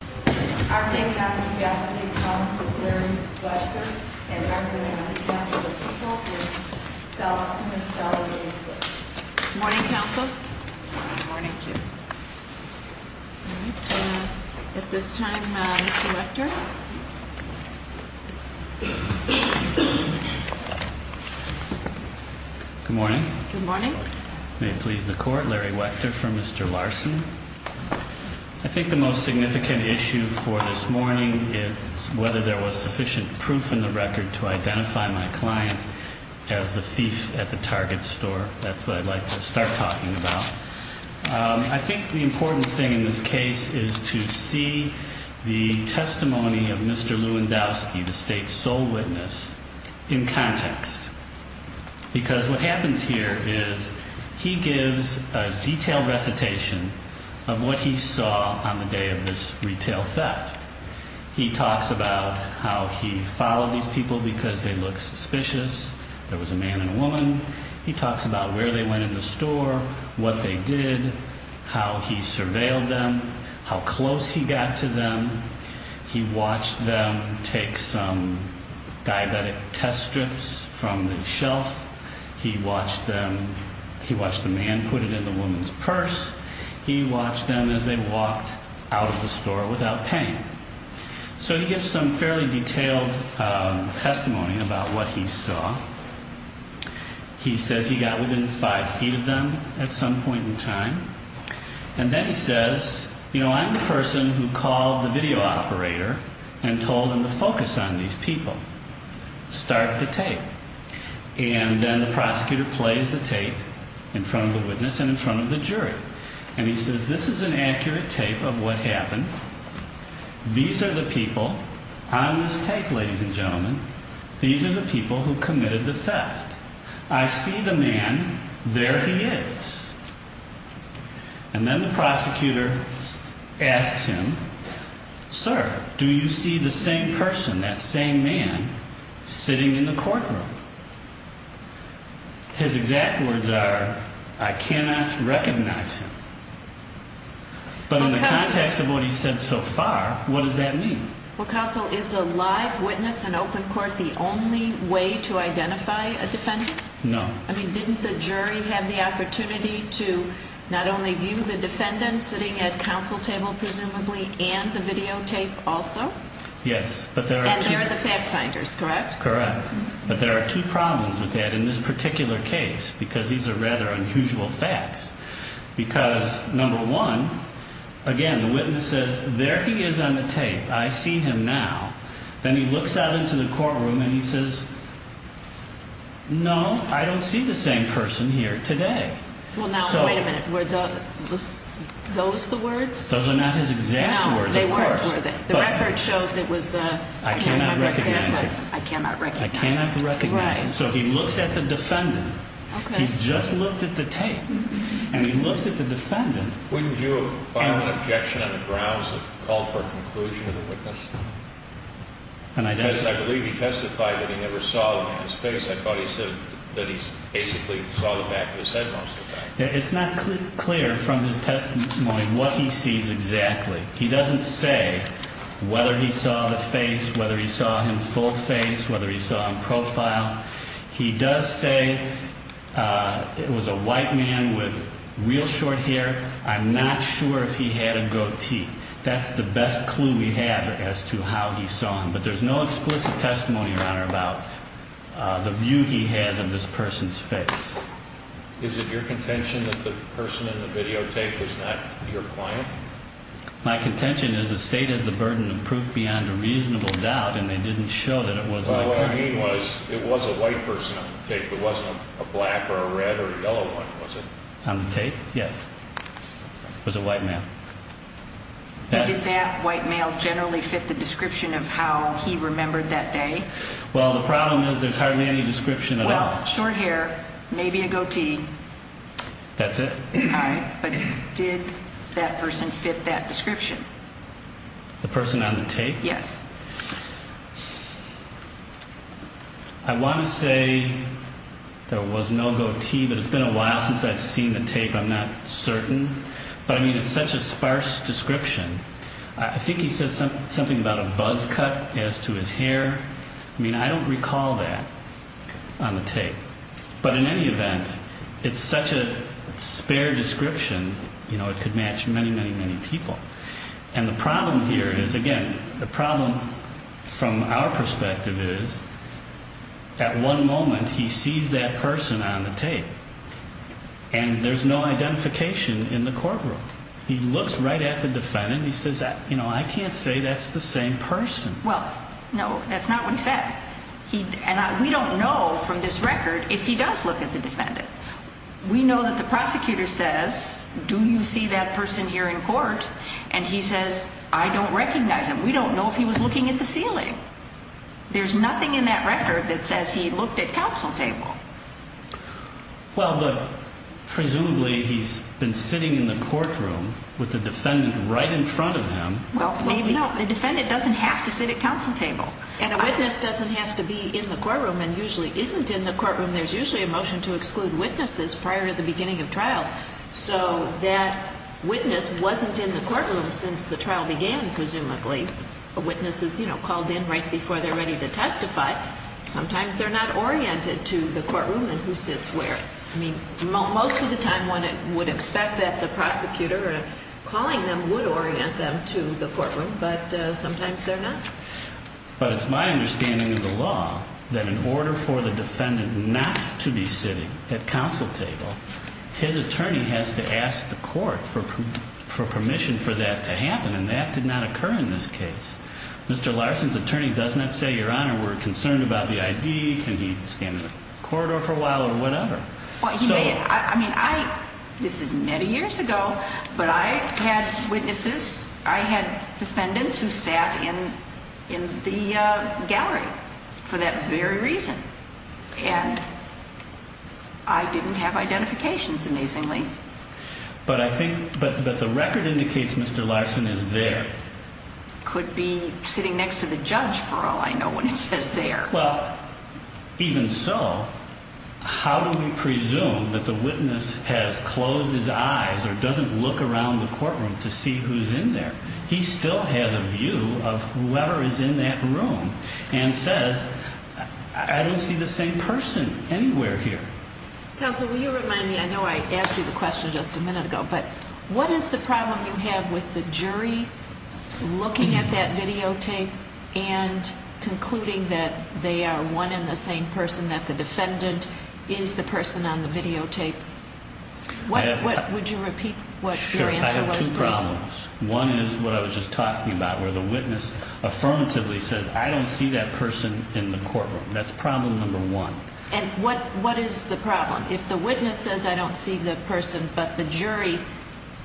Good morning, counsel. Good morning to you. At this time, Mr. Wechter. Good morning. Good morning. May it please the court, Larry Wechter for Mr. Larsen. I think the most significant issue for this morning is whether there was sufficient proof in the record to identify my client as the thief at the Target store. That's what I'd like to start talking about. I think the important thing in this case is to see the testimony of Mr. Lewandowski, the state's sole witness, in context. Because what happens here is he gives a detailed recitation of what he saw on the day of this retail theft. He talks about how he followed these people because they look suspicious. There was a man and a woman. He talks about where they went in the store, what they did, how he surveilled them, how close he got to them. He watched them take some diabetic test strips from the shelf. He watched them. He watched the man put it in the woman's purse. He watched them as they walked out of the store without paying. So he gives some fairly detailed testimony about what he saw. He says he got within five feet of them at some point in time. And then he says, you know, I'm the person who called the video operator and told him to focus on these people, start the tape. And then the prosecutor plays the tape in front of the witness and in front of the jury. And he says, this is an accurate tape of what happened. These are the people on this tape, ladies and gentlemen. These are the people who committed the theft. I see the man. There he is. And then the prosecutor asked him, sir, do you see the same person, that same man sitting in the courtroom? His exact words are, I cannot recognize him. But in the context of what he said so far, what does that mean? Well, counsel, is a live witness in open court the only way to identify a defendant? No. I mean, didn't the jury have the opportunity to not only view the defendant sitting at counsel table, presumably, and the videotape also? Yes. And they're the fact finders, correct? Correct. But there are two problems with that in this particular case, because these are rather unusual facts. Because, number one, again, the witness says, there he is on the tape. I see him now. Then he looks out into the courtroom and he says, no, I don't see the same person here today. Well, now, wait a minute. Were those the words? Those are not his exact words, of course. No, they weren't, were they? The record shows it was, I cannot recognize him. I cannot recognize him. I cannot recognize him. Right. So he looks at the defendant. Okay. He just looked at the tape. And he looks at the defendant. Wouldn't you find an objection on the grounds of a call for a conclusion to the witness? Yes, I believe he testified that he never saw the man's face. I thought he said that he basically saw the back of his head most of the time. It's not clear from his testimony what he sees exactly. He doesn't say whether he saw the face, whether he saw him full face, whether he saw him profile. He does say it was a white man with real short hair. I'm not sure if he had a goatee. That's the best clue we have as to how he saw him. But there's no explicit testimony, Your Honor, about the view he has of this person's face. Is it your contention that the person in the videotape was not your client? My contention is the state has the burden of proof beyond a reasonable doubt, and they didn't show that it was my client. So what I mean was it was a white person on the tape. It wasn't a black or a red or a yellow one, was it? On the tape, yes. It was a white man. Did that white male generally fit the description of how he remembered that day? Well, the problem is there's hardly any description at all. Well, short hair, maybe a goatee. That's it. All right, but did that person fit that description? The person on the tape? Yes. I want to say there was no goatee, but it's been a while since I've seen the tape. I'm not certain. But, I mean, it's such a sparse description. I think he said something about a buzz cut as to his hair. I mean, I don't recall that on the tape. But in any event, it's such a spare description, you know, it could match many, many, many people. And the problem here is, again, the problem from our perspective is at one moment he sees that person on the tape. And there's no identification in the courtroom. He looks right at the defendant and he says, you know, I can't say that's the same person. Well, no, that's not what he said. And we don't know from this record if he does look at the defendant. We know that the prosecutor says, do you see that person here in court? And he says, I don't recognize him. We don't know if he was looking at the ceiling. There's nothing in that record that says he looked at counsel table. Well, but presumably he's been sitting in the courtroom with the defendant right in front of him. Well, no, the defendant doesn't have to sit at counsel table. And a witness doesn't have to be in the courtroom and usually isn't in the courtroom. There's usually a motion to exclude witnesses prior to the beginning of trial. So that witness wasn't in the courtroom since the trial began, presumably. A witness is, you know, called in right before they're ready to testify. Sometimes they're not oriented to the courtroom and who sits where. I mean, most of the time one would expect that the prosecutor calling them would orient them to the courtroom, but sometimes they're not. But it's my understanding in the law that in order for the defendant not to be sitting at counsel table, his attorney has to ask the court for permission for that to happen, and that did not occur in this case. Mr. Larson's attorney does not say, Your Honor, we're concerned about the ID. Can he stand in the corridor for a while or whatever? I mean, this is many years ago, but I had witnesses. I had defendants who sat in the gallery for that very reason, and I didn't have identifications, amazingly. But I think that the record indicates Mr. Larson is there. Could be sitting next to the judge, for all I know, when it says there. Well, even so, how do we presume that the witness has closed his eyes or doesn't look around the courtroom to see who's in there? He still has a view of whoever is in that room and says, I don't see the same person anywhere here. Counsel, will you remind me? I know I asked you the question just a minute ago, but what is the problem you have with the jury looking at that videotape and concluding that they are one and the same person, that the defendant is the person on the videotape? Would you repeat what your answer was, please? Sure. I have two problems. One is what I was just talking about, where the witness affirmatively says, I don't see that person in the courtroom. That's problem number one. And what is the problem? If the witness says, I don't see the person, but the jury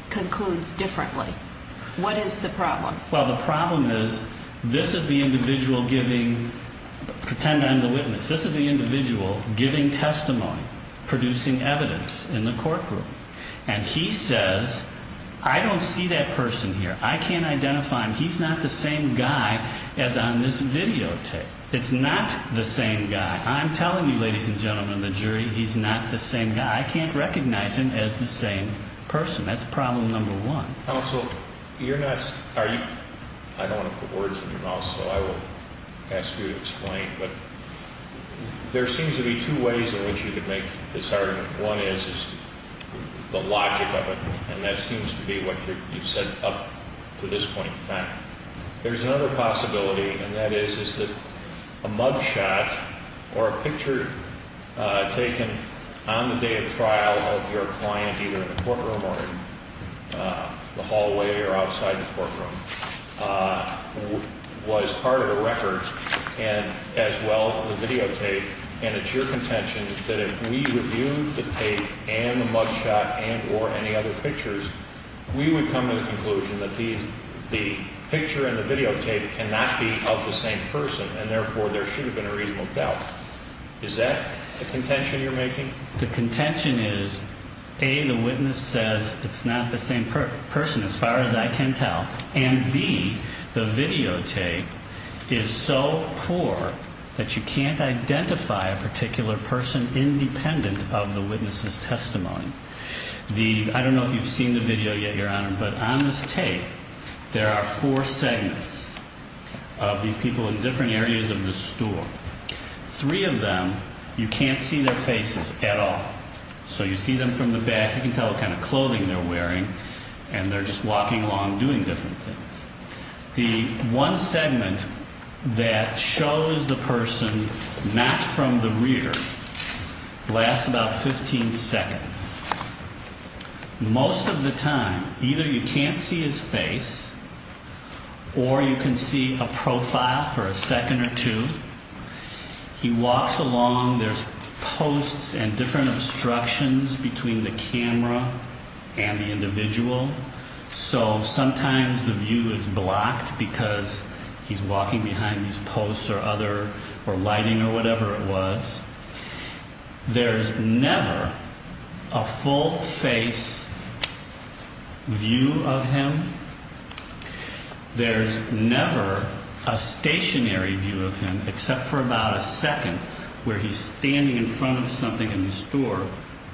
concludes differently, what is the problem? Well, the problem is this is the individual giving, pretend I'm the witness. This is the individual giving testimony, producing evidence in the courtroom. And he says, I don't see that person here. I can't identify him. He's not the same guy as on this videotape. It's not the same guy. I'm telling you, ladies and gentlemen of the jury, he's not the same guy. I can't recognize him as the same person. That's problem number one. Counsel, you're not, I don't want to put words in your mouth, so I will ask you to explain, but there seems to be two ways in which you could make this argument. One is the logic of it, and that seems to be what you've said up to this point in time. There's another possibility, and that is, is that a mugshot or a picture taken on the day of trial of your client, either in the courtroom or in the hallway or outside the courtroom, was part of a record and as well the videotape, and it's your contention that if we reviewed the tape and the mugshot and or any other pictures, we would come to the conclusion that the picture and the videotape cannot be of the same person, and therefore there should have been a reasonable doubt. Is that the contention you're making? The contention is, A, the witness says it's not the same person as far as I can tell, and B, the videotape is so poor that you can't identify a particular person independent of the witness's testimony. I don't know if you've seen the video yet, Your Honor, but on this tape, there are four segments of these people in different areas of the store. Three of them, you can't see their faces at all. So you see them from the back, you can tell what kind of clothing they're wearing, and they're just walking along doing different things. The one segment that shows the person not from the rear lasts about 15 seconds. Most of the time, either you can't see his face or you can see a profile for a second or two. He walks along, there's posts and different obstructions between the camera and the individual, so sometimes the view is blocked because he's walking behind these posts or lighting or whatever it was. There's never a full-face view of him. There's never a stationary view of him, except for about a second, where he's standing in front of something in the store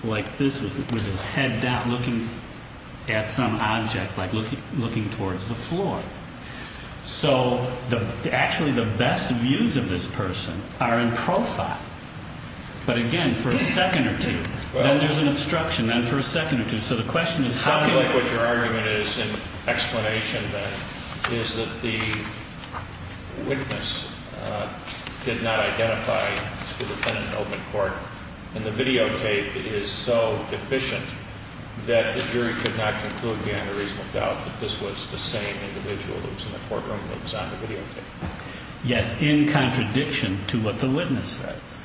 like this with his head down, looking at some object, like looking towards the floor. So actually the best views of this person are in profile, but again, for a second or two. Then there's an obstruction, then for a second or two. It sounds like what your argument is in explanation, then, is that the witness did not identify the defendant in open court, and the videotape is so deficient that the jury could not conclude beyond a reasonable doubt that this was the same individual that was in the courtroom that was on the videotape. Yes, in contradiction to what the witness says.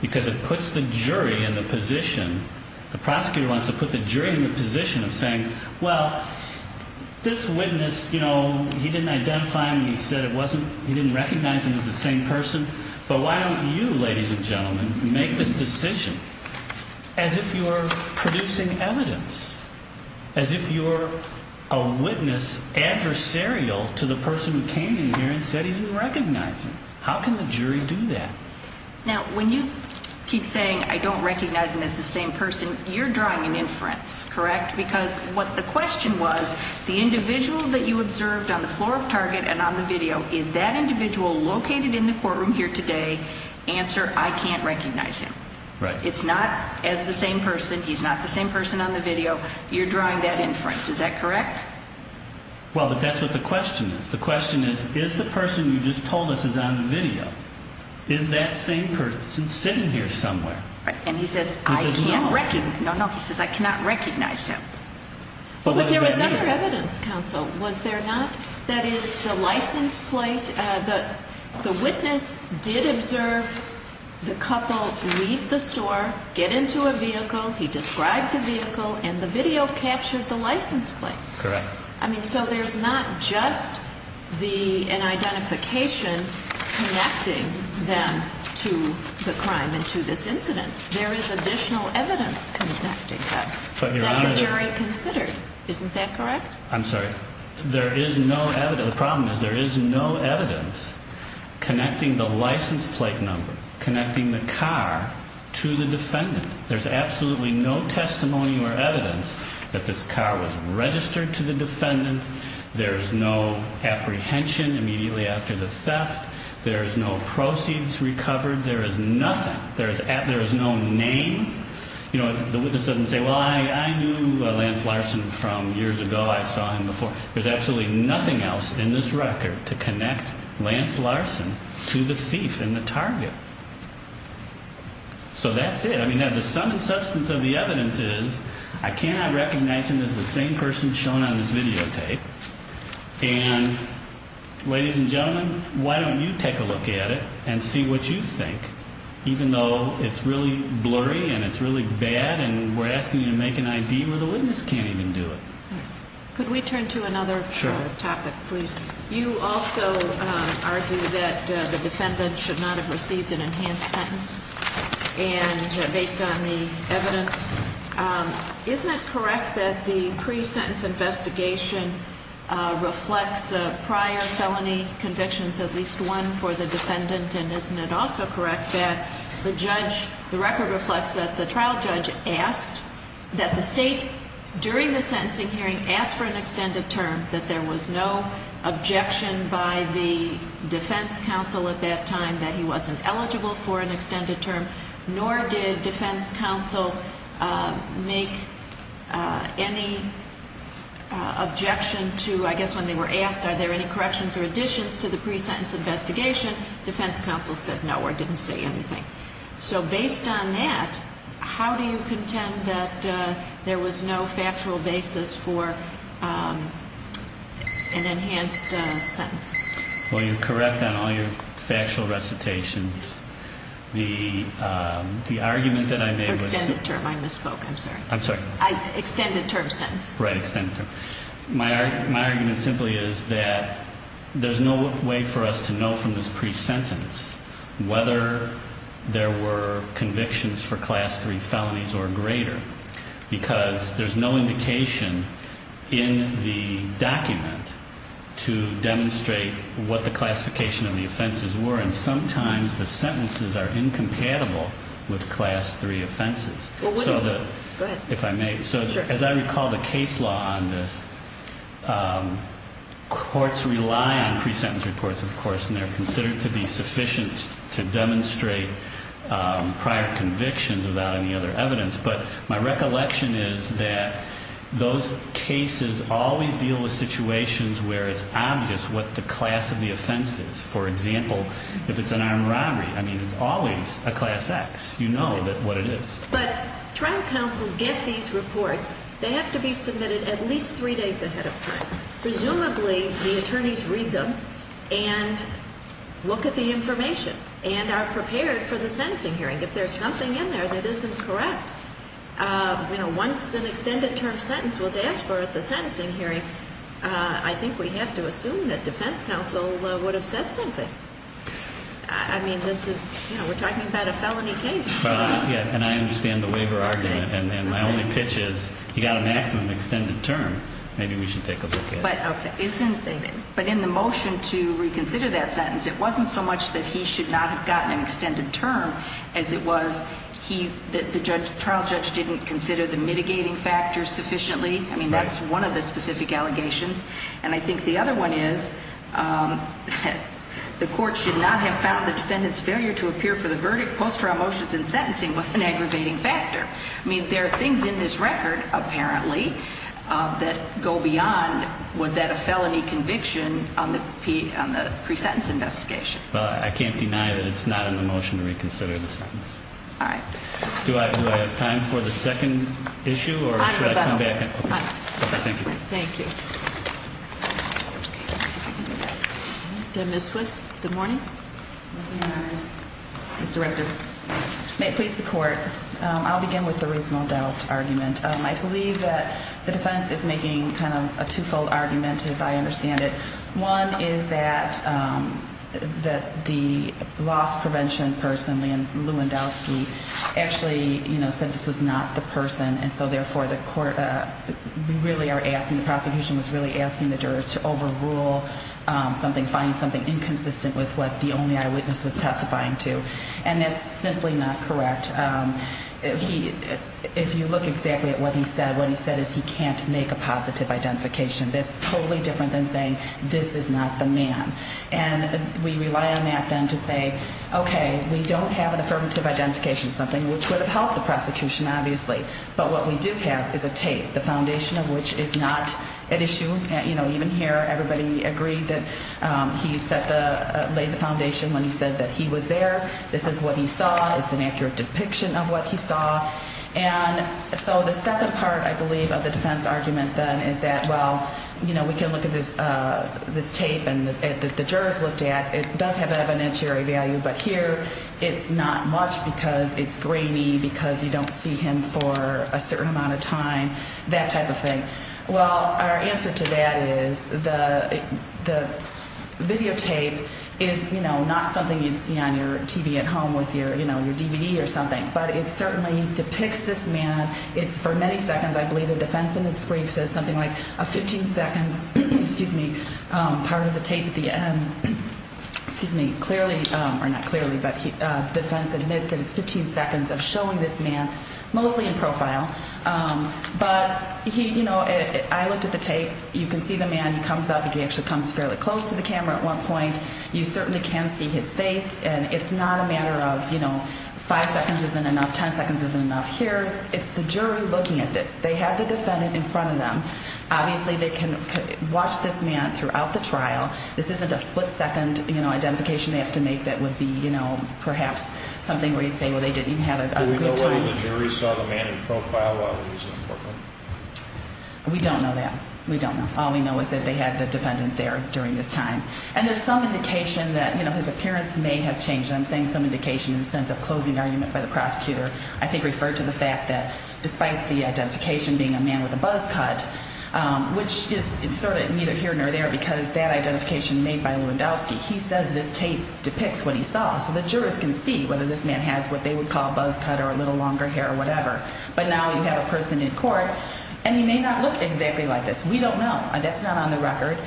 Because it puts the jury in the position, the prosecutor wants to put the jury in the position of saying, well, this witness, you know, he didn't identify him, he said he didn't recognize him as the same person, but why don't you, ladies and gentlemen, make this decision as if you're producing evidence, as if you're a witness adversarial to the person who came in here and said he didn't recognize him. How can the jury do that? Now, when you keep saying I don't recognize him as the same person, you're drawing an inference, correct? Because what the question was, the individual that you observed on the floor of Target and on the video, is that individual located in the courtroom here today? Answer, I can't recognize him. Right. It's not as the same person, he's not the same person on the video. You're drawing that inference. Is that correct? Well, that's what the question is. The question is, is the person you just told us is on the video, is that same person sitting here somewhere? Right. And he says I can't recognize him. No, no, he says I cannot recognize him. But there was other evidence, counsel, was there not? That is, the license plate, the witness did observe the couple leave the store, get into a vehicle, he described the vehicle, and the video captured the license plate. Correct. I mean, so there's not just an identification connecting them to the crime and to this incident. There is additional evidence connecting them that the jury considered. Isn't that correct? I'm sorry. There is no evidence. The problem is there is no evidence connecting the license plate number, connecting the car to the defendant. There's absolutely no testimony or evidence that this car was registered to the defendant. There is no apprehension immediately after the theft. There is no proceeds recovered. There is nothing. There is no name. You know, the witness doesn't say, well, I knew Lance Larson from years ago. I saw him before. There's absolutely nothing else in this record to connect Lance Larson to the thief and the target. So that's it. I mean, the sum and substance of the evidence is I cannot recognize him as the same person shown on this videotape. And, ladies and gentlemen, why don't you take a look at it and see what you think? Even though it's really blurry and it's really bad, and we're asking you to make an ID where the witness can't even do it. Could we turn to another topic, please? You also argue that the defendant should not have received an enhanced sentence. And based on the evidence, isn't it correct that the pre-sentence investigation reflects prior felony convictions, at least one, for the defendant? And isn't it also correct that the judge, the record reflects that the trial judge asked that the State, during the sentencing hearing, ask for an extended term, that there was no objection by the defense counsel at that time that he wasn't eligible for an extended term, nor did defense counsel make any objection to, I guess when they were asked, are there any corrections or additions to the pre-sentence investigation, defense counsel said no or didn't say anything. So based on that, how do you contend that there was no factual basis for an enhanced sentence? Well, you're correct on all your factual recitations. The argument that I made was... For extended term, I misspoke, I'm sorry. I'm sorry. Extended term sentence. Right, extended term. My argument simply is that there's no way for us to know from this pre-sentence whether there were convictions for Class 3 felonies or greater, because there's no indication in the document to demonstrate what the classification of the offenses were, and sometimes the sentences are incompatible with Class 3 offenses. Go ahead. If I may, so as I recall the case law on this, courts rely on pre-sentence reports, of course, and they're considered to be sufficient to demonstrate prior convictions without any other evidence, but my recollection is that those cases always deal with situations where it's obvious what the class of the offense is. For example, if it's an armed robbery, I mean, it's always a Class X. You know what it is. But trial counsel get these reports. They have to be submitted at least three days ahead of time. Presumably, the attorneys read them and look at the information and are prepared for the sentencing hearing. If there's something in there that isn't correct, you know, once an extended term sentence was asked for at the sentencing hearing, I think we have to assume that defense counsel would have said something. I mean, this is, you know, we're talking about a felony case. Yeah, and I understand the waiver argument, and my only pitch is you've got an axiom of extended term. Maybe we should take a look at it. But in the motion to reconsider that sentence, it wasn't so much that he should not have gotten an extended term as it was that the trial judge didn't consider the mitigating factors sufficiently. I mean, that's one of the specific allegations. And I think the other one is the court should not have found the defendant's failure to appear for the post-trial motions and sentencing was an aggravating factor. I mean, there are things in this record, apparently, that go beyond was that a felony conviction on the pre-sentence investigation. Well, I can't deny that it's not in the motion to reconsider the sentence. All right. Do I have time for the second issue, or should I come back? I'm available. Okay, thank you. Ms. Swiss, good morning. Good morning, Your Honors. Ms. Director, may it please the court, I'll begin with the reasonable doubt argument. I believe that the defense is making kind of a two-fold argument, as I understand it. One is that the loss prevention person, Leigh Ann Lewandowski, actually said this was not the person, and so, therefore, the prosecution was really asking the jurors to overrule something, find something inconsistent with what the only eyewitness was testifying to. And that's simply not correct. If you look exactly at what he said, what he said is he can't make a positive identification. That's totally different than saying this is not the man. And we rely on that then to say, okay, we don't have an affirmative identification, something which would have helped the prosecution, obviously. But what we do have is a tape, the foundation of which is not at issue. You know, even here, everybody agreed that he laid the foundation when he said that he was there. This is what he saw. It's an accurate depiction of what he saw. And so the second part, I believe, of the defense argument then is that, well, you know, we can look at this tape and the jurors looked at it. It does have evidentiary value. But here it's not much because it's grainy, because you don't see him for a certain amount of time, that type of thing. Well, our answer to that is the videotape is, you know, not something you'd see on your TV at home with your, you know, your DVD or something. But it certainly depicts this man. It's for many seconds, I believe, the defense in its brief says something like a 15-second, excuse me, part of the tape at the end, excuse me, clearly, or not clearly, but the defense admits that it's 15 seconds of showing this man, mostly in profile. But, you know, I looked at the tape. You can see the man. He comes up. He actually comes fairly close to the camera at one point. You certainly can see his face. And it's not a matter of, you know, five seconds isn't enough, ten seconds isn't enough. Here it's the jury looking at this. They have the defendant in front of them. Obviously they can watch this man throughout the trial. This isn't a split-second, you know, identification they have to make that would be, you know, perhaps something where you'd say, well, they didn't even have a good time. Do we know whether the jury saw the man in profile while he was in the courtroom? We don't know that. We don't know. All we know is that they had the defendant there during this time. And there's some indication that, you know, his appearance may have changed. And I'm saying some indication in the sense of closing argument by the prosecutor. I think referred to the fact that despite the identification being a man with a buzz cut, which is sort of neither here nor there because that identification made by Lewandowski, he says this tape depicts what he saw. So the jurors can see whether this man has what they would call a buzz cut or a little longer hair or whatever. But now you have a person in court, and he may not look exactly like this. We don't know. That's not on the record.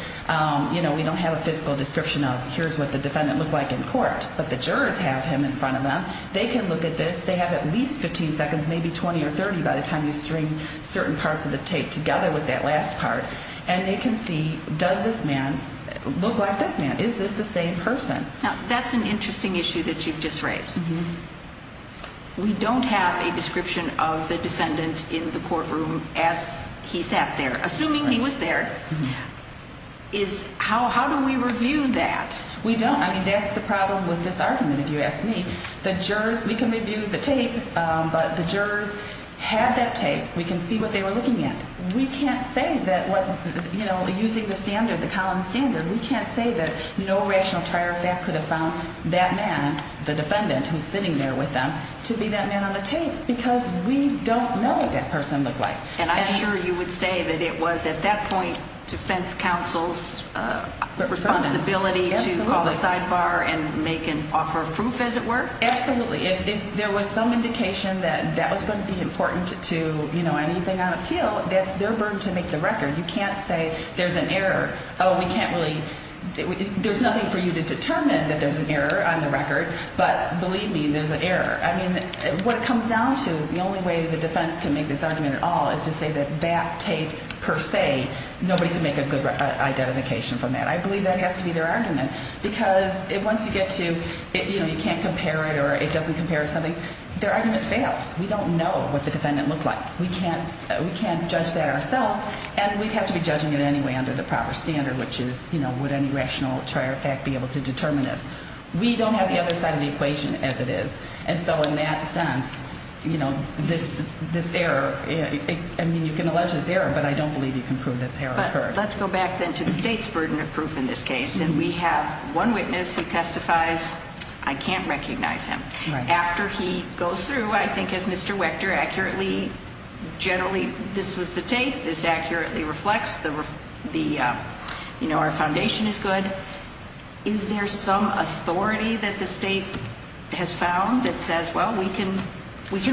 You know, we don't have a physical description of here's what the defendant looked like in court. But the jurors have him in front of them. They can look at this. They have at least 15 seconds, maybe 20 or 30 by the time you string certain parts of the tape together with that last part. And they can see, does this man look like this man? Is this the same person? Now, that's an interesting issue that you've just raised. We don't have a description of the defendant in the courtroom as he sat there, assuming he was there. How do we review that? We don't. I mean, that's the problem with this argument, if you ask me. The jurors, we can review the tape, but the jurors had that tape. We can see what they were looking at. We can't say that what, you know, using the standard, the Collins standard, we can't say that no rational trier of fact could have found that man, the defendant who's sitting there with them, to be that man on the tape because we don't know what that person looked like. And I'm sure you would say that it was at that point defense counsel's responsibility to call the sidebar and make an offer of proof, as it were? Absolutely. If there was some indication that that was going to be important to, you know, anything on appeal, that's their burden to make the record. You can't say there's an error. Oh, we can't really – there's nothing for you to determine that there's an error on the record. But believe me, there's an error. I mean, what it comes down to is the only way the defense can make this argument at all is to say that that tape per se, nobody can make a good identification from that. I believe that has to be their argument because once you get to, you know, you can't compare it or it doesn't compare to something, their argument fails. We don't know what the defendant looked like. We can't judge that ourselves, and we'd have to be judging it anyway under the proper standard, which is, you know, would any rational trier of fact be able to determine this? We don't have the other side of the equation as it is. And so in that sense, you know, this error, I mean, you can allege this error, but I don't believe you can prove that the error occurred. Let's go back then to the state's burden of proof in this case, and we have one witness who testifies. I can't recognize him. After he goes through, I think, as Mr. Wechter accurately, generally, this was the tape. This accurately reflects the, you know, our foundation is good. Is there some authority that the state has found that says, well, we can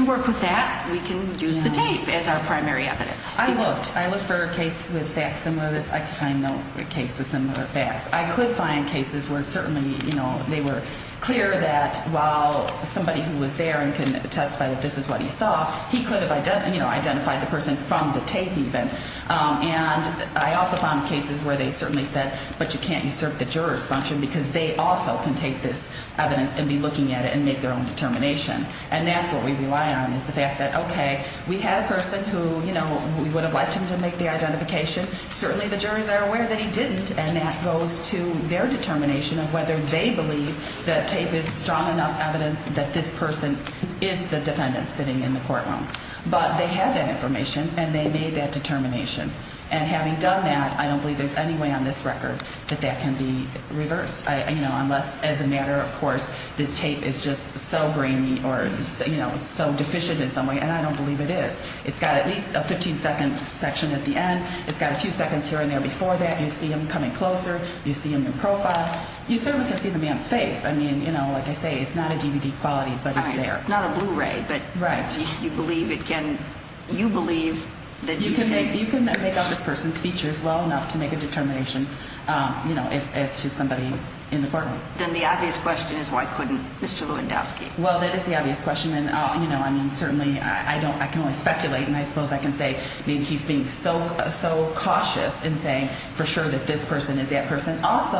work with that. We can use the tape as our primary evidence? I looked. I looked for a case with facts similar to this. I could find no case with similar facts. I could find cases where certainly, you know, they were clear that while somebody who was there and could testify that this is what he saw, he could have, you know, identified the person from the tape even. And I also found cases where they certainly said, but you can't usurp the juror's function because they also can take this evidence and be looking at it and make their own determination. And that's what we rely on is the fact that, okay, we had a person who, you know, we would have liked him to make the identification. Certainly the juries are aware that he didn't, and that goes to their determination of whether they believe that tape is strong enough evidence that this person is the defendant sitting in the courtroom. But they had that information, and they made that determination. And having done that, I don't believe there's any way on this record that that can be reversed, you know, unless, as a matter of course, this tape is just so grainy or, you know, so deficient in some way. And I don't believe it is. It's got at least a 15-second section at the end. It's got a few seconds here and there before that. You see him coming closer. You see him in profile. You certainly can see the man's face. I mean, you know, like I say, it's not a DVD quality, but it's there. It's not a Blu-ray. Right. But you believe it can, you believe that you can make. Well enough to make a determination, you know, as to somebody in the courtroom. Then the obvious question is why couldn't Mr. Lewandowski? Well, that is the obvious question, and, you know, I mean, certainly I can only speculate, and I suppose I can say he's being so cautious in saying for sure that this person is that person. Also,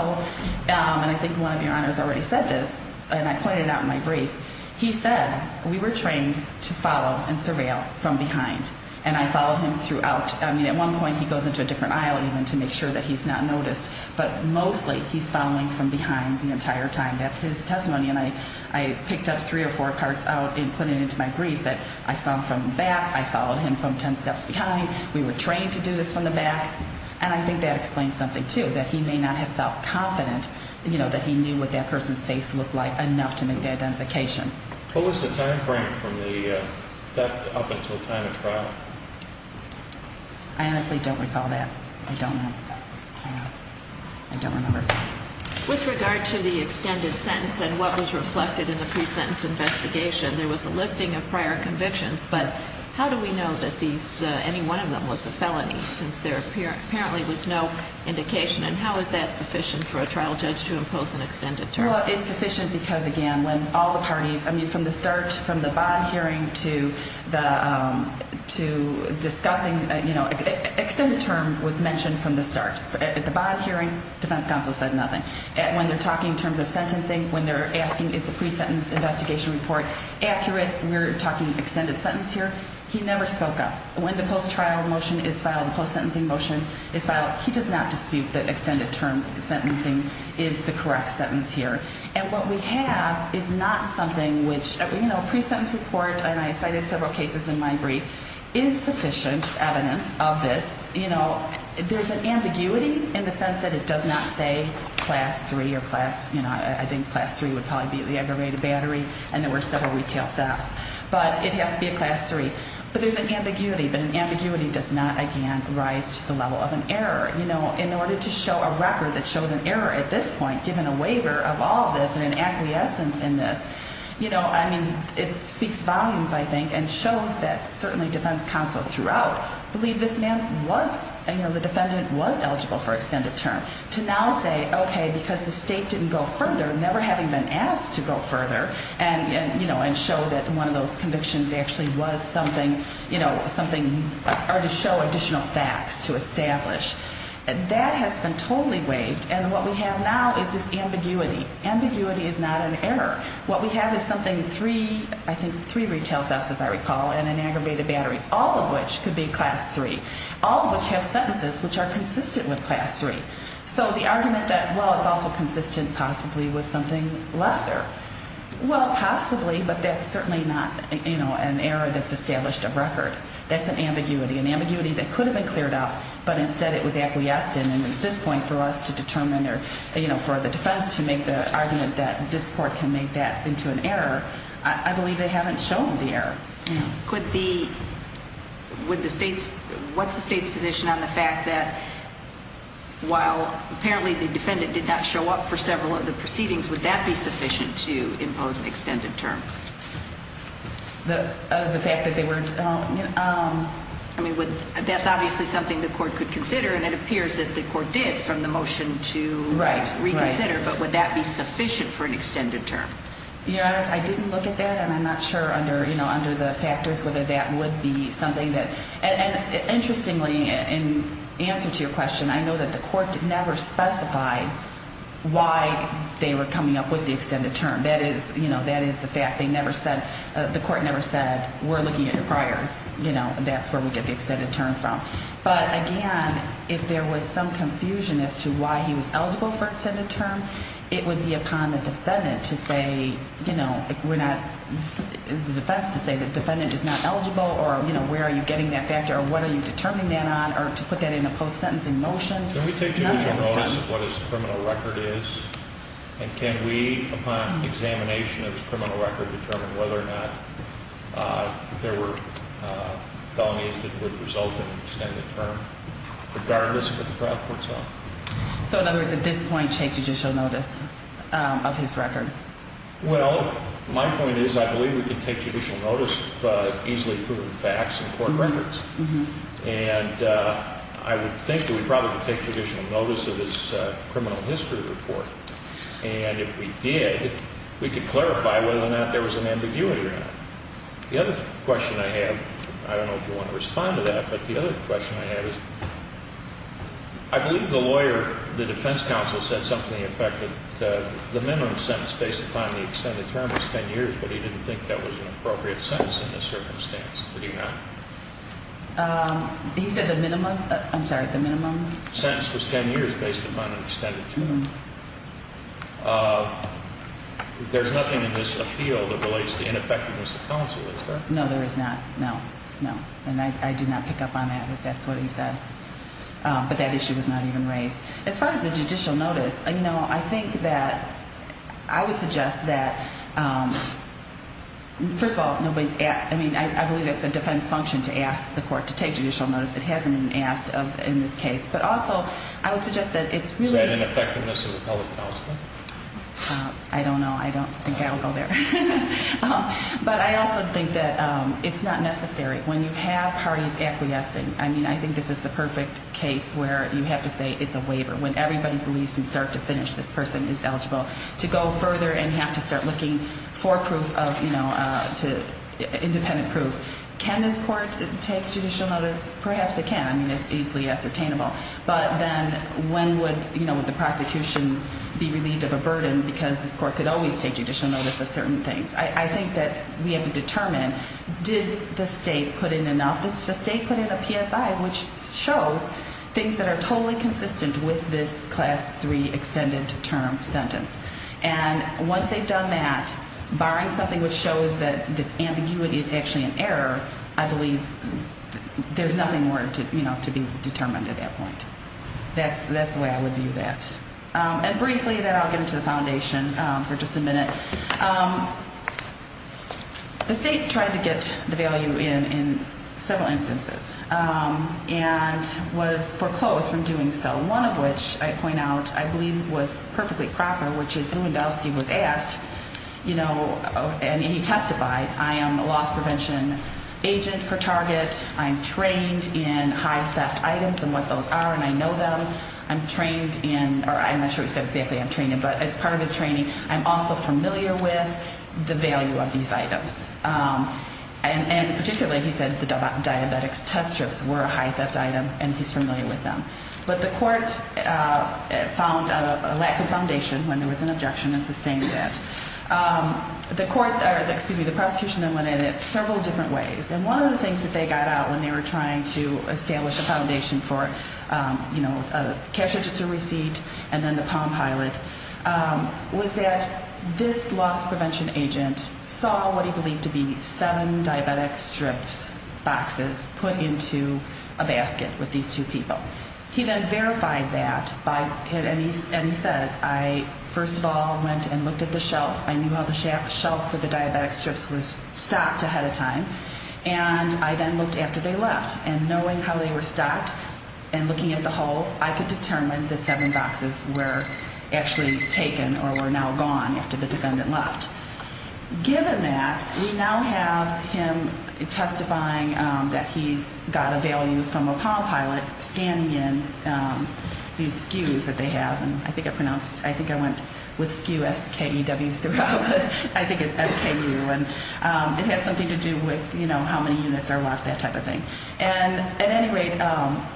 and I think one of your honors already said this, and I pointed it out in my brief, he said we were trained to follow and surveil from behind, and I followed him throughout. I mean, at one point he goes into a different aisle even to make sure that he's not noticed, but mostly he's following from behind the entire time. That's his testimony, and I picked up three or four parts out and put it into my brief that I saw from the back. I followed him from 10 steps behind. We were trained to do this from the back, and I think that explains something too, that he may not have felt confident, you know, that he knew what that person's face looked like enough to make the identification. What was the time frame from the theft up until time of trial? I honestly don't recall that. I don't know. I don't remember. With regard to the extended sentence and what was reflected in the pre-sentence investigation, there was a listing of prior convictions, but how do we know that any one of them was a felony, since there apparently was no indication, and how is that sufficient for a trial judge to impose an extended term? Well, it's sufficient because, again, when all the parties, I mean, from the start, from the bond hearing to discussing, you know, extended term was mentioned from the start. At the bond hearing, defense counsel said nothing. When they're talking in terms of sentencing, when they're asking is the pre-sentence investigation report accurate, we're talking extended sentence here, he never spoke up. When the post-trial motion is filed, the post-sentencing motion is filed, but he does not dispute that extended term sentencing is the correct sentence here. And what we have is not something which, you know, pre-sentence report, and I cited several cases in my brief, is sufficient evidence of this. You know, there's an ambiguity in the sense that it does not say class 3 or class, you know, I think class 3 would probably be the aggravated battery, and there were several retail thefts. But it has to be a class 3. But there's an ambiguity, but an ambiguity does not, again, rise to the level of an error. You know, in order to show a record that shows an error at this point, given a waiver of all this and an acquiescence in this, you know, I mean, it speaks volumes, I think, and shows that certainly defense counsel throughout believed this man was, you know, the defendant was eligible for extended term. To now say, okay, because the state didn't go further, never having been asked to go further, and, you know, and show that one of those convictions actually was something, you know, something to show additional facts to establish, that has been totally waived. And what we have now is this ambiguity. Ambiguity is not an error. What we have is something three, I think three retail thefts, as I recall, and an aggravated battery, all of which could be class 3, all of which have sentences which are consistent with class 3. So the argument that, well, it's also consistent possibly with something lesser. Well, possibly, but that's certainly not, you know, an error that's established of record. That's an ambiguity, an ambiguity that could have been cleared up, but instead it was acquiesced in, and at this point for us to determine or, you know, for the defense to make the argument that this court can make that into an error, I believe they haven't shown the error. Could the, would the state's, what's the state's position on the fact that, while apparently the defendant did not show up for several of the proceedings, would that be sufficient to impose an extended term? The fact that they were, you know. I mean, that's obviously something the court could consider, and it appears that the court did from the motion to reconsider, but would that be sufficient for an extended term? Your Honor, I didn't look at that, and I'm not sure under, you know, under the factors whether that would be something that, and interestingly in answer to your question, I know that the court never specified why they were coming up with the extended term. That is, you know, that is the fact. They never said, the court never said, we're looking at your priors, you know, and that's where we get the extended term from. But, again, if there was some confusion as to why he was eligible for extended term, it would be upon the defendant to say, you know, we're not, the defense to say the defendant is not eligible, or, you know, where are you getting that factor, or what are you determining that on, or to put that in a post-sentencing motion. Can we take judicial notice of what his criminal record is, and can we, upon examination of his criminal record, determine whether or not there were felonies that would result in extended term, regardless of what the trial court's on? So, in other words, at this point, take judicial notice of his record. Well, my point is, I believe we can take judicial notice of easily proven facts in court records. And I would think that we probably could take judicial notice of his criminal history report. And if we did, we could clarify whether or not there was an ambiguity around it. The other question I have, I don't know if you want to respond to that, but the other question I have is, I believe the lawyer, the defense counsel, said something affected the minimum sentence based upon the extended term was 10 years, but he didn't think that was an appropriate sentence in this circumstance, did he not? He said the minimum, I'm sorry, the minimum? Sentence was 10 years based upon an extended term. There's nothing in this appeal that relates to ineffectiveness of counsel, is there? No, there is not. No, no. And I did not pick up on that, but that's what he said. But that issue was not even raised. As far as the judicial notice, you know, I think that I would suggest that, first of all, I mean, I believe it's a defense function to ask the court to take judicial notice. It hasn't been asked in this case. But also, I would suggest that it's really – Is that an effectiveness of the public counsel? I don't know. I don't think I would go there. But I also think that it's not necessary. When you have parties acquiescing, I mean, I think this is the perfect case where you have to say it's a waiver. When everybody believes from start to finish this person is eligible to go further and have to start looking for proof of, you know, independent proof. Can this court take judicial notice? Perhaps it can. I mean, it's easily ascertainable. But then when would, you know, would the prosecution be relieved of a burden because this court could always take judicial notice of certain things? I think that we have to determine, did the state put in enough? Did the state put in a PSI which shows things that are totally consistent with this Class 3 extended term sentence? And once they've done that, barring something which shows that this ambiguity is actually an error, I believe there's nothing more, you know, to be determined at that point. That's the way I would view that. And briefly, then I'll get into the foundation for just a minute. The state tried to get the value in in several instances and was foreclosed from doing so, one of which I point out I believe was perfectly proper, which is when Wendelsky was asked, you know, and he testified, I am a loss prevention agent for Target. I'm trained in high theft items and what those are, and I know them. I'm trained in, or I'm not sure he said exactly I'm trained in, but as part of his training, I'm also familiar with the value of these items. And particularly, he said the diabetics test strips were a high theft item and he's familiar with them. But the court found a lack of foundation when there was an objection and sustained it. The court, or excuse me, the prosecution then went at it several different ways. And one of the things that they got out when they were trying to establish a foundation for, you know, a cash register receipt and then the Palm Pilot was that this loss prevention agent saw what he believed to be seven diabetic strips boxes put into a basket with these two people. He then verified that by, and he says, I first of all went and looked at the shelf. I knew how the shelf for the diabetics strips was stocked ahead of time. And I then looked after they left. And knowing how they were stocked and looking at the whole, I could determine the seven boxes were actually taken or were now gone after the defendant left. Given that, we now have him testifying that he's got a value from a Palm Pilot, scanning in these SKUs that they have. And I think I pronounced, I think I went with SKU, S-K-E-W throughout, but I think it's S-K-U. And it has something to do with, you know, how many units are left, that type of thing. And at any rate,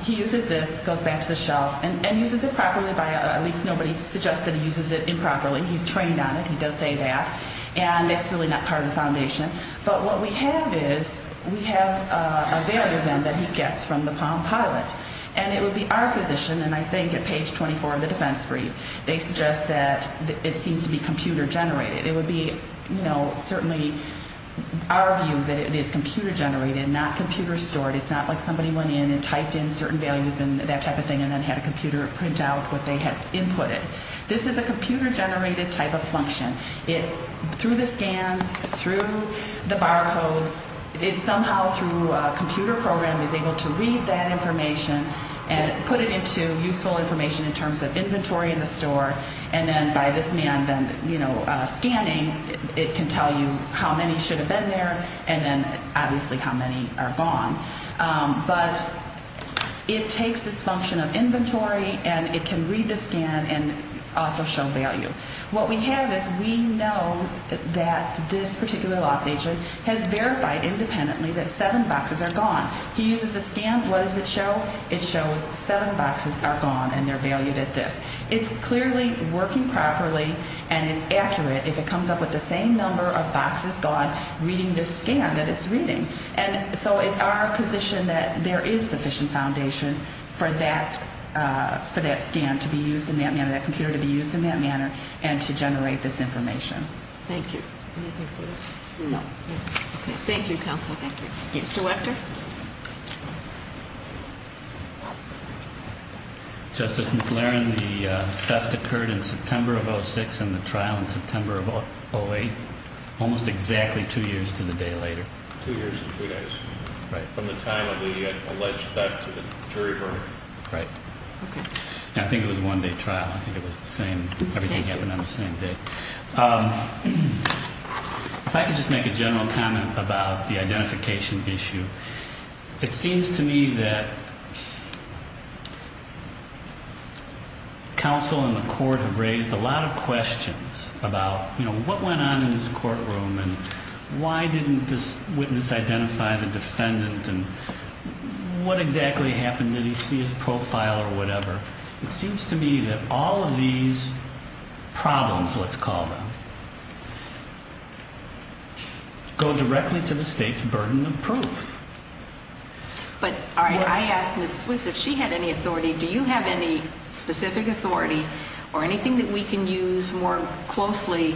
he uses this, goes back to the shelf, and uses it properly by at least nobody suggests that he uses it improperly. He's trained on it. He does say that. And it's really not part of the foundation. But what we have is we have a value then that he gets from the Palm Pilot. And it would be our position, and I think at page 24 of the defense brief, they suggest that it seems to be computer generated. It would be, you know, certainly our view that it is computer generated, not computer stored. It's not like somebody went in and typed in certain values and that type of thing and then had a computer print out what they had inputted. This is a computer generated type of function. Through the scans, through the barcodes, it somehow through a computer program is able to read that information and put it into useful information in terms of inventory in the store. And then by this man then, you know, scanning, it can tell you how many should have been there and then obviously how many are gone. But it takes this function of inventory and it can read the scan and also show value. What we have is we know that this particular loss agent has verified independently that seven boxes are gone. He uses the scan. What does it show? It shows seven boxes are gone and they're valued at this. It's clearly working properly and it's accurate if it comes up with the same number of boxes gone reading this scan that it's reading. And so it's our position that there is sufficient foundation for that scan to be used in that manner, that computer to be used in that manner, and to generate this information. Thank you. Anything further? No. Okay. Thank you, counsel. Thank you. Mr. Wechter. Justice McLaren, the theft occurred in September of 06 and the trial in September of 08, almost exactly two years to the day later. Two years and two days. Right. From the time of the alleged theft to the jury verdict. Right. Okay. I think it was a one-day trial. I think it was the same. Thank you. Everything happened on the same day. If I could just make a general comment about the identification issue. It seems to me that counsel and the court have raised a lot of questions about, you know, what went on in this courtroom and why didn't this witness identify the defendant and what exactly happened? Did he see his profile or whatever? It seems to me that all of these problems, let's call them, go directly to the state's burden of proof. But, all right, I asked Ms. Swiss if she had any authority. Do you have any specific authority or anything that we can use more closely,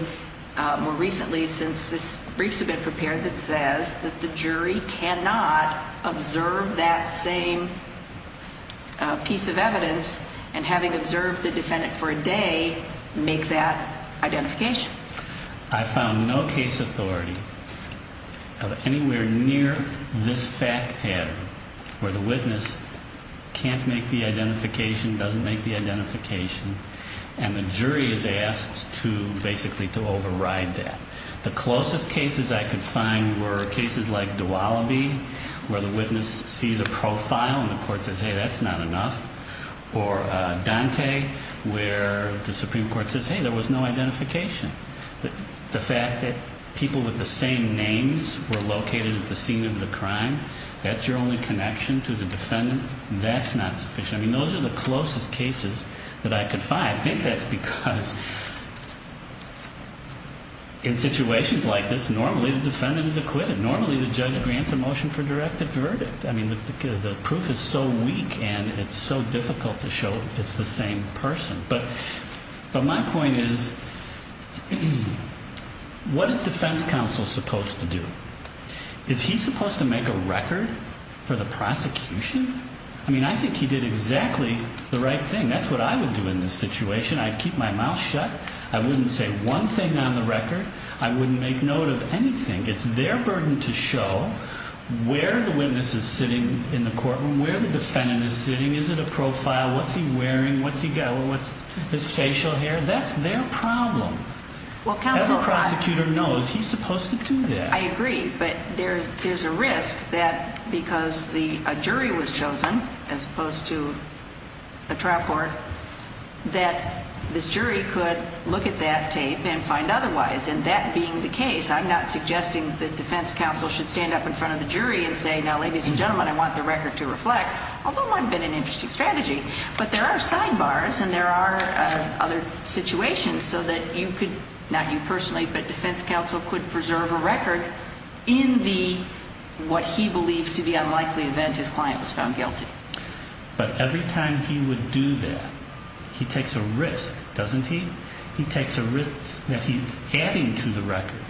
more recently, since this brief has been prepared that says that the jury cannot observe that same piece of evidence and having observed the defendant for a day make that identification? I found no case authority of anywhere near this fact pattern where the witness can't make the identification, doesn't make the identification, and the jury is asked to basically to override that. The closest cases I could find were cases like Dowaliby where the witness sees a profile and the court says, hey, that's not enough, or Dante where the Supreme Court says, hey, there was no identification. The fact that people with the same names were located at the scene of the crime, that's your only connection to the defendant, that's not sufficient. I mean, those are the closest cases that I could find. I think that's because in situations like this, normally the defendant is acquitted. Normally the judge grants a motion for directed verdict. I mean, the proof is so weak and it's so difficult to show it's the same person. But my point is, what is defense counsel supposed to do? Is he supposed to make a record for the prosecution? I mean, I think he did exactly the right thing. That's what I would do in this situation. I'd keep my mouth shut. I wouldn't say one thing on the record. I wouldn't make note of anything. It's their burden to show where the witness is sitting in the courtroom, where the defendant is sitting. Is it a profile? What's he wearing? What's his facial hair? That's their problem. Every prosecutor knows he's supposed to do that. I agree, but there's a risk that because a jury was chosen as opposed to a trial court, that this jury could look at that tape and find otherwise. And that being the case, I'm not suggesting that defense counsel should stand up in front of the jury and say, now, ladies and gentlemen, I want the record to reflect, although it might have been an interesting strategy. But there are sidebars and there are other situations so that you could, not you personally, but defense counsel could preserve a record in what he believed to be an unlikely event his client was found guilty. But every time he would do that, he takes a risk, doesn't he? He takes a risk that he's adding to the record,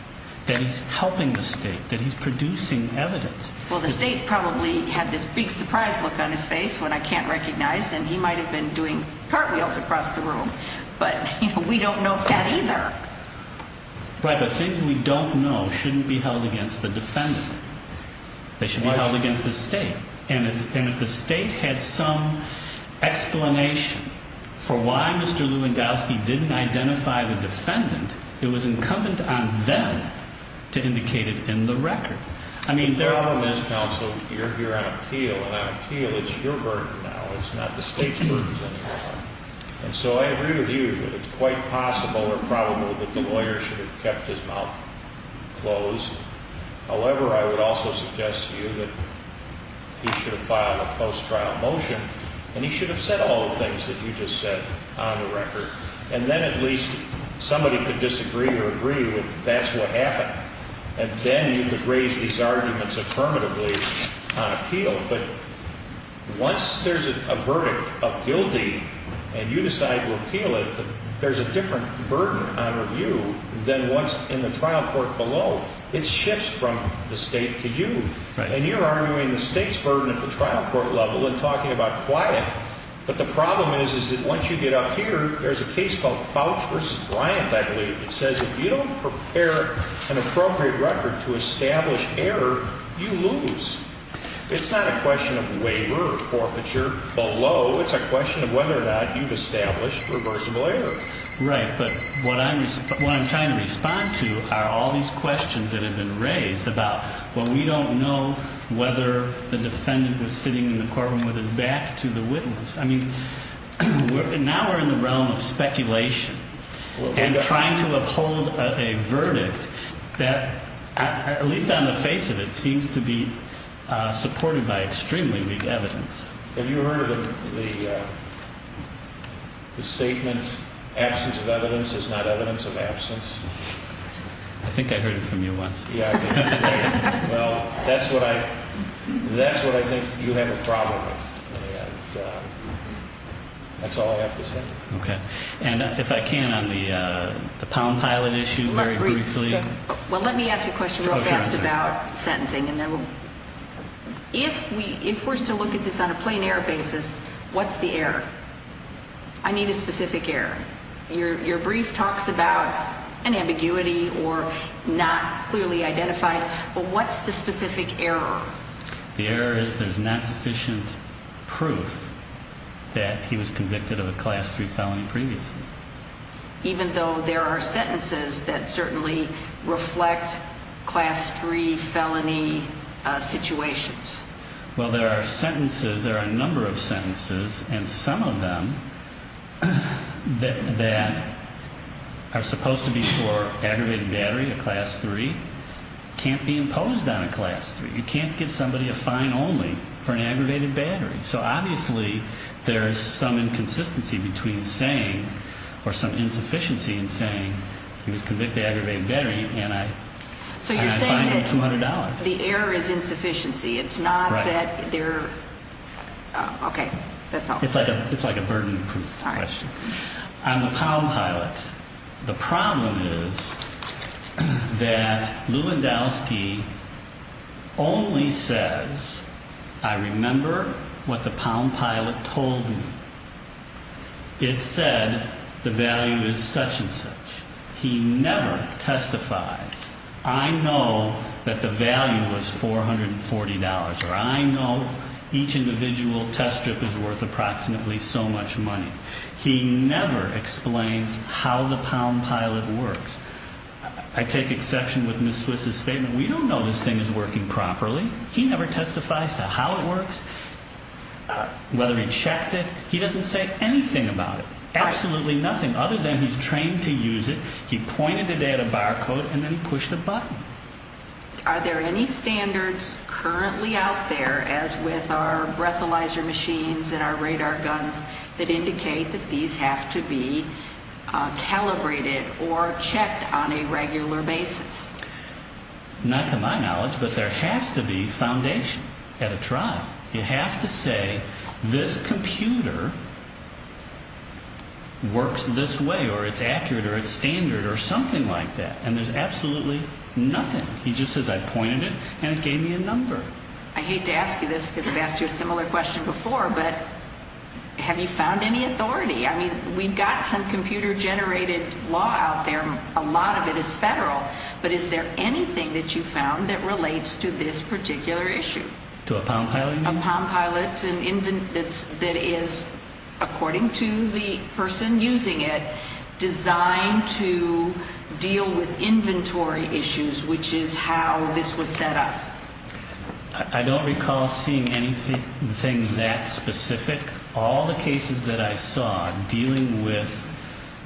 that he's helping the state, that he's producing evidence. Well, the state probably had this big surprise look on his face, one I can't recognize, and he might have been doing cartwheels across the room. But we don't know that either. Right, but things we don't know shouldn't be held against the defendant. They should be held against the state. And if the state had some explanation for why Mr. Lewandowski didn't identify the defendant, it was incumbent on them to indicate it in the record. The problem is, counsel, you're here on appeal, and on appeal it's your burden now. It's not the state's burden anymore. And so I agree with you that it's quite possible or probable that the lawyer should have kept his mouth closed. However, I would also suggest to you that he should have filed a post-trial motion, and he should have said all the things that you just said on the record. And then at least somebody could disagree or agree that that's what happened. And then you could raise these arguments affirmatively on appeal. But once there's a verdict of guilty and you decide to appeal it, there's a different burden on review than what's in the trial court below. It shifts from the state to you. And you're arguing the state's burden at the trial court level and talking about quiet. But the problem is that once you get up here, there's a case called Fouch v. Bryant, I believe, that says if you don't prepare an appropriate record to establish error, you lose. It's not a question of waiver or forfeiture below. It's a question of whether or not you've established reversible error. Right. But what I'm trying to respond to are all these questions that have been raised about, well, we don't know whether the defendant was sitting in the courtroom with his back to the witness. I mean, now we're in the realm of speculation and trying to uphold a verdict that, at least on the face of it, seems to be supported by extremely weak evidence. Have you heard of the statement, absence of evidence is not evidence of absence? I think I heard it from you once. Well, that's what I think you have a problem with. That's all I have to say. Okay. And if I can, on the pound pilot issue, very briefly. Well, let me ask a question real fast about sentencing. If we're to look at this on a plain error basis, what's the error? I need a specific error. Your brief talks about an ambiguity or not clearly identified, but what's the specific error? The error is there's not sufficient proof that he was convicted of a Class 3 felony previously. Even though there are sentences that certainly reflect Class 3 felony situations? Well, there are sentences, there are a number of sentences, and some of them that are supposed to be for aggravated battery, a Class 3, can't be imposed on a Class 3. You can't give somebody a fine only for an aggravated battery. So, obviously, there's some inconsistency between saying, or some insufficiency in saying, he was convicted of aggravated battery and I fined him $200. So you're saying that the error is insufficiency. It's not that they're, okay, that's all. It's like a burden proof question. All right. I'm a pound pilot. The problem is that Lewandowski only says, I remember what the pound pilot told me. It said the value is such and such. He never testifies, I know that the value was $440, or I know each individual test strip is worth approximately so much money. He never explains how the pound pilot works. I take exception with Ms. Swiss's statement. We don't know this thing is working properly. He never testifies to how it works, whether he checked it. He doesn't say anything about it, absolutely nothing, other than he's trained to use it. He pointed it at a barcode and then he pushed a button. Are there any standards currently out there, as with our breathalyzer machines and our radar guns, that indicate that these have to be calibrated or checked on a regular basis? Not to my knowledge, but there has to be foundation at a trial. You have to say this computer works this way or it's accurate or it's standard or something like that. And there's absolutely nothing. He just says I pointed it and it gave me a number. I hate to ask you this because I've asked you a similar question before, but have you found any authority? I mean, we've got some computer-generated law out there. A lot of it is federal, but is there anything that you've found that relates to this particular issue? To a pound pilot? A pound pilot that is, according to the person using it, designed to deal with inventory issues, which is how this was set up. I don't recall seeing anything that specific. All the cases that I saw dealing with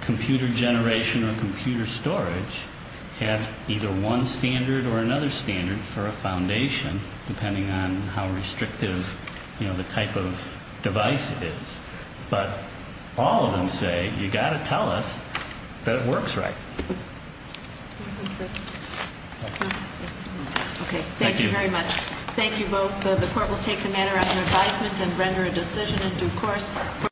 computer generation or computer storage have either one standard or another standard for a foundation, depending on how restrictive the type of device is. But all of them say you've got to tell us that it works right. Okay. Thank you very much. Thank you both. The Court will take the matter under advisement and render a decision in due course.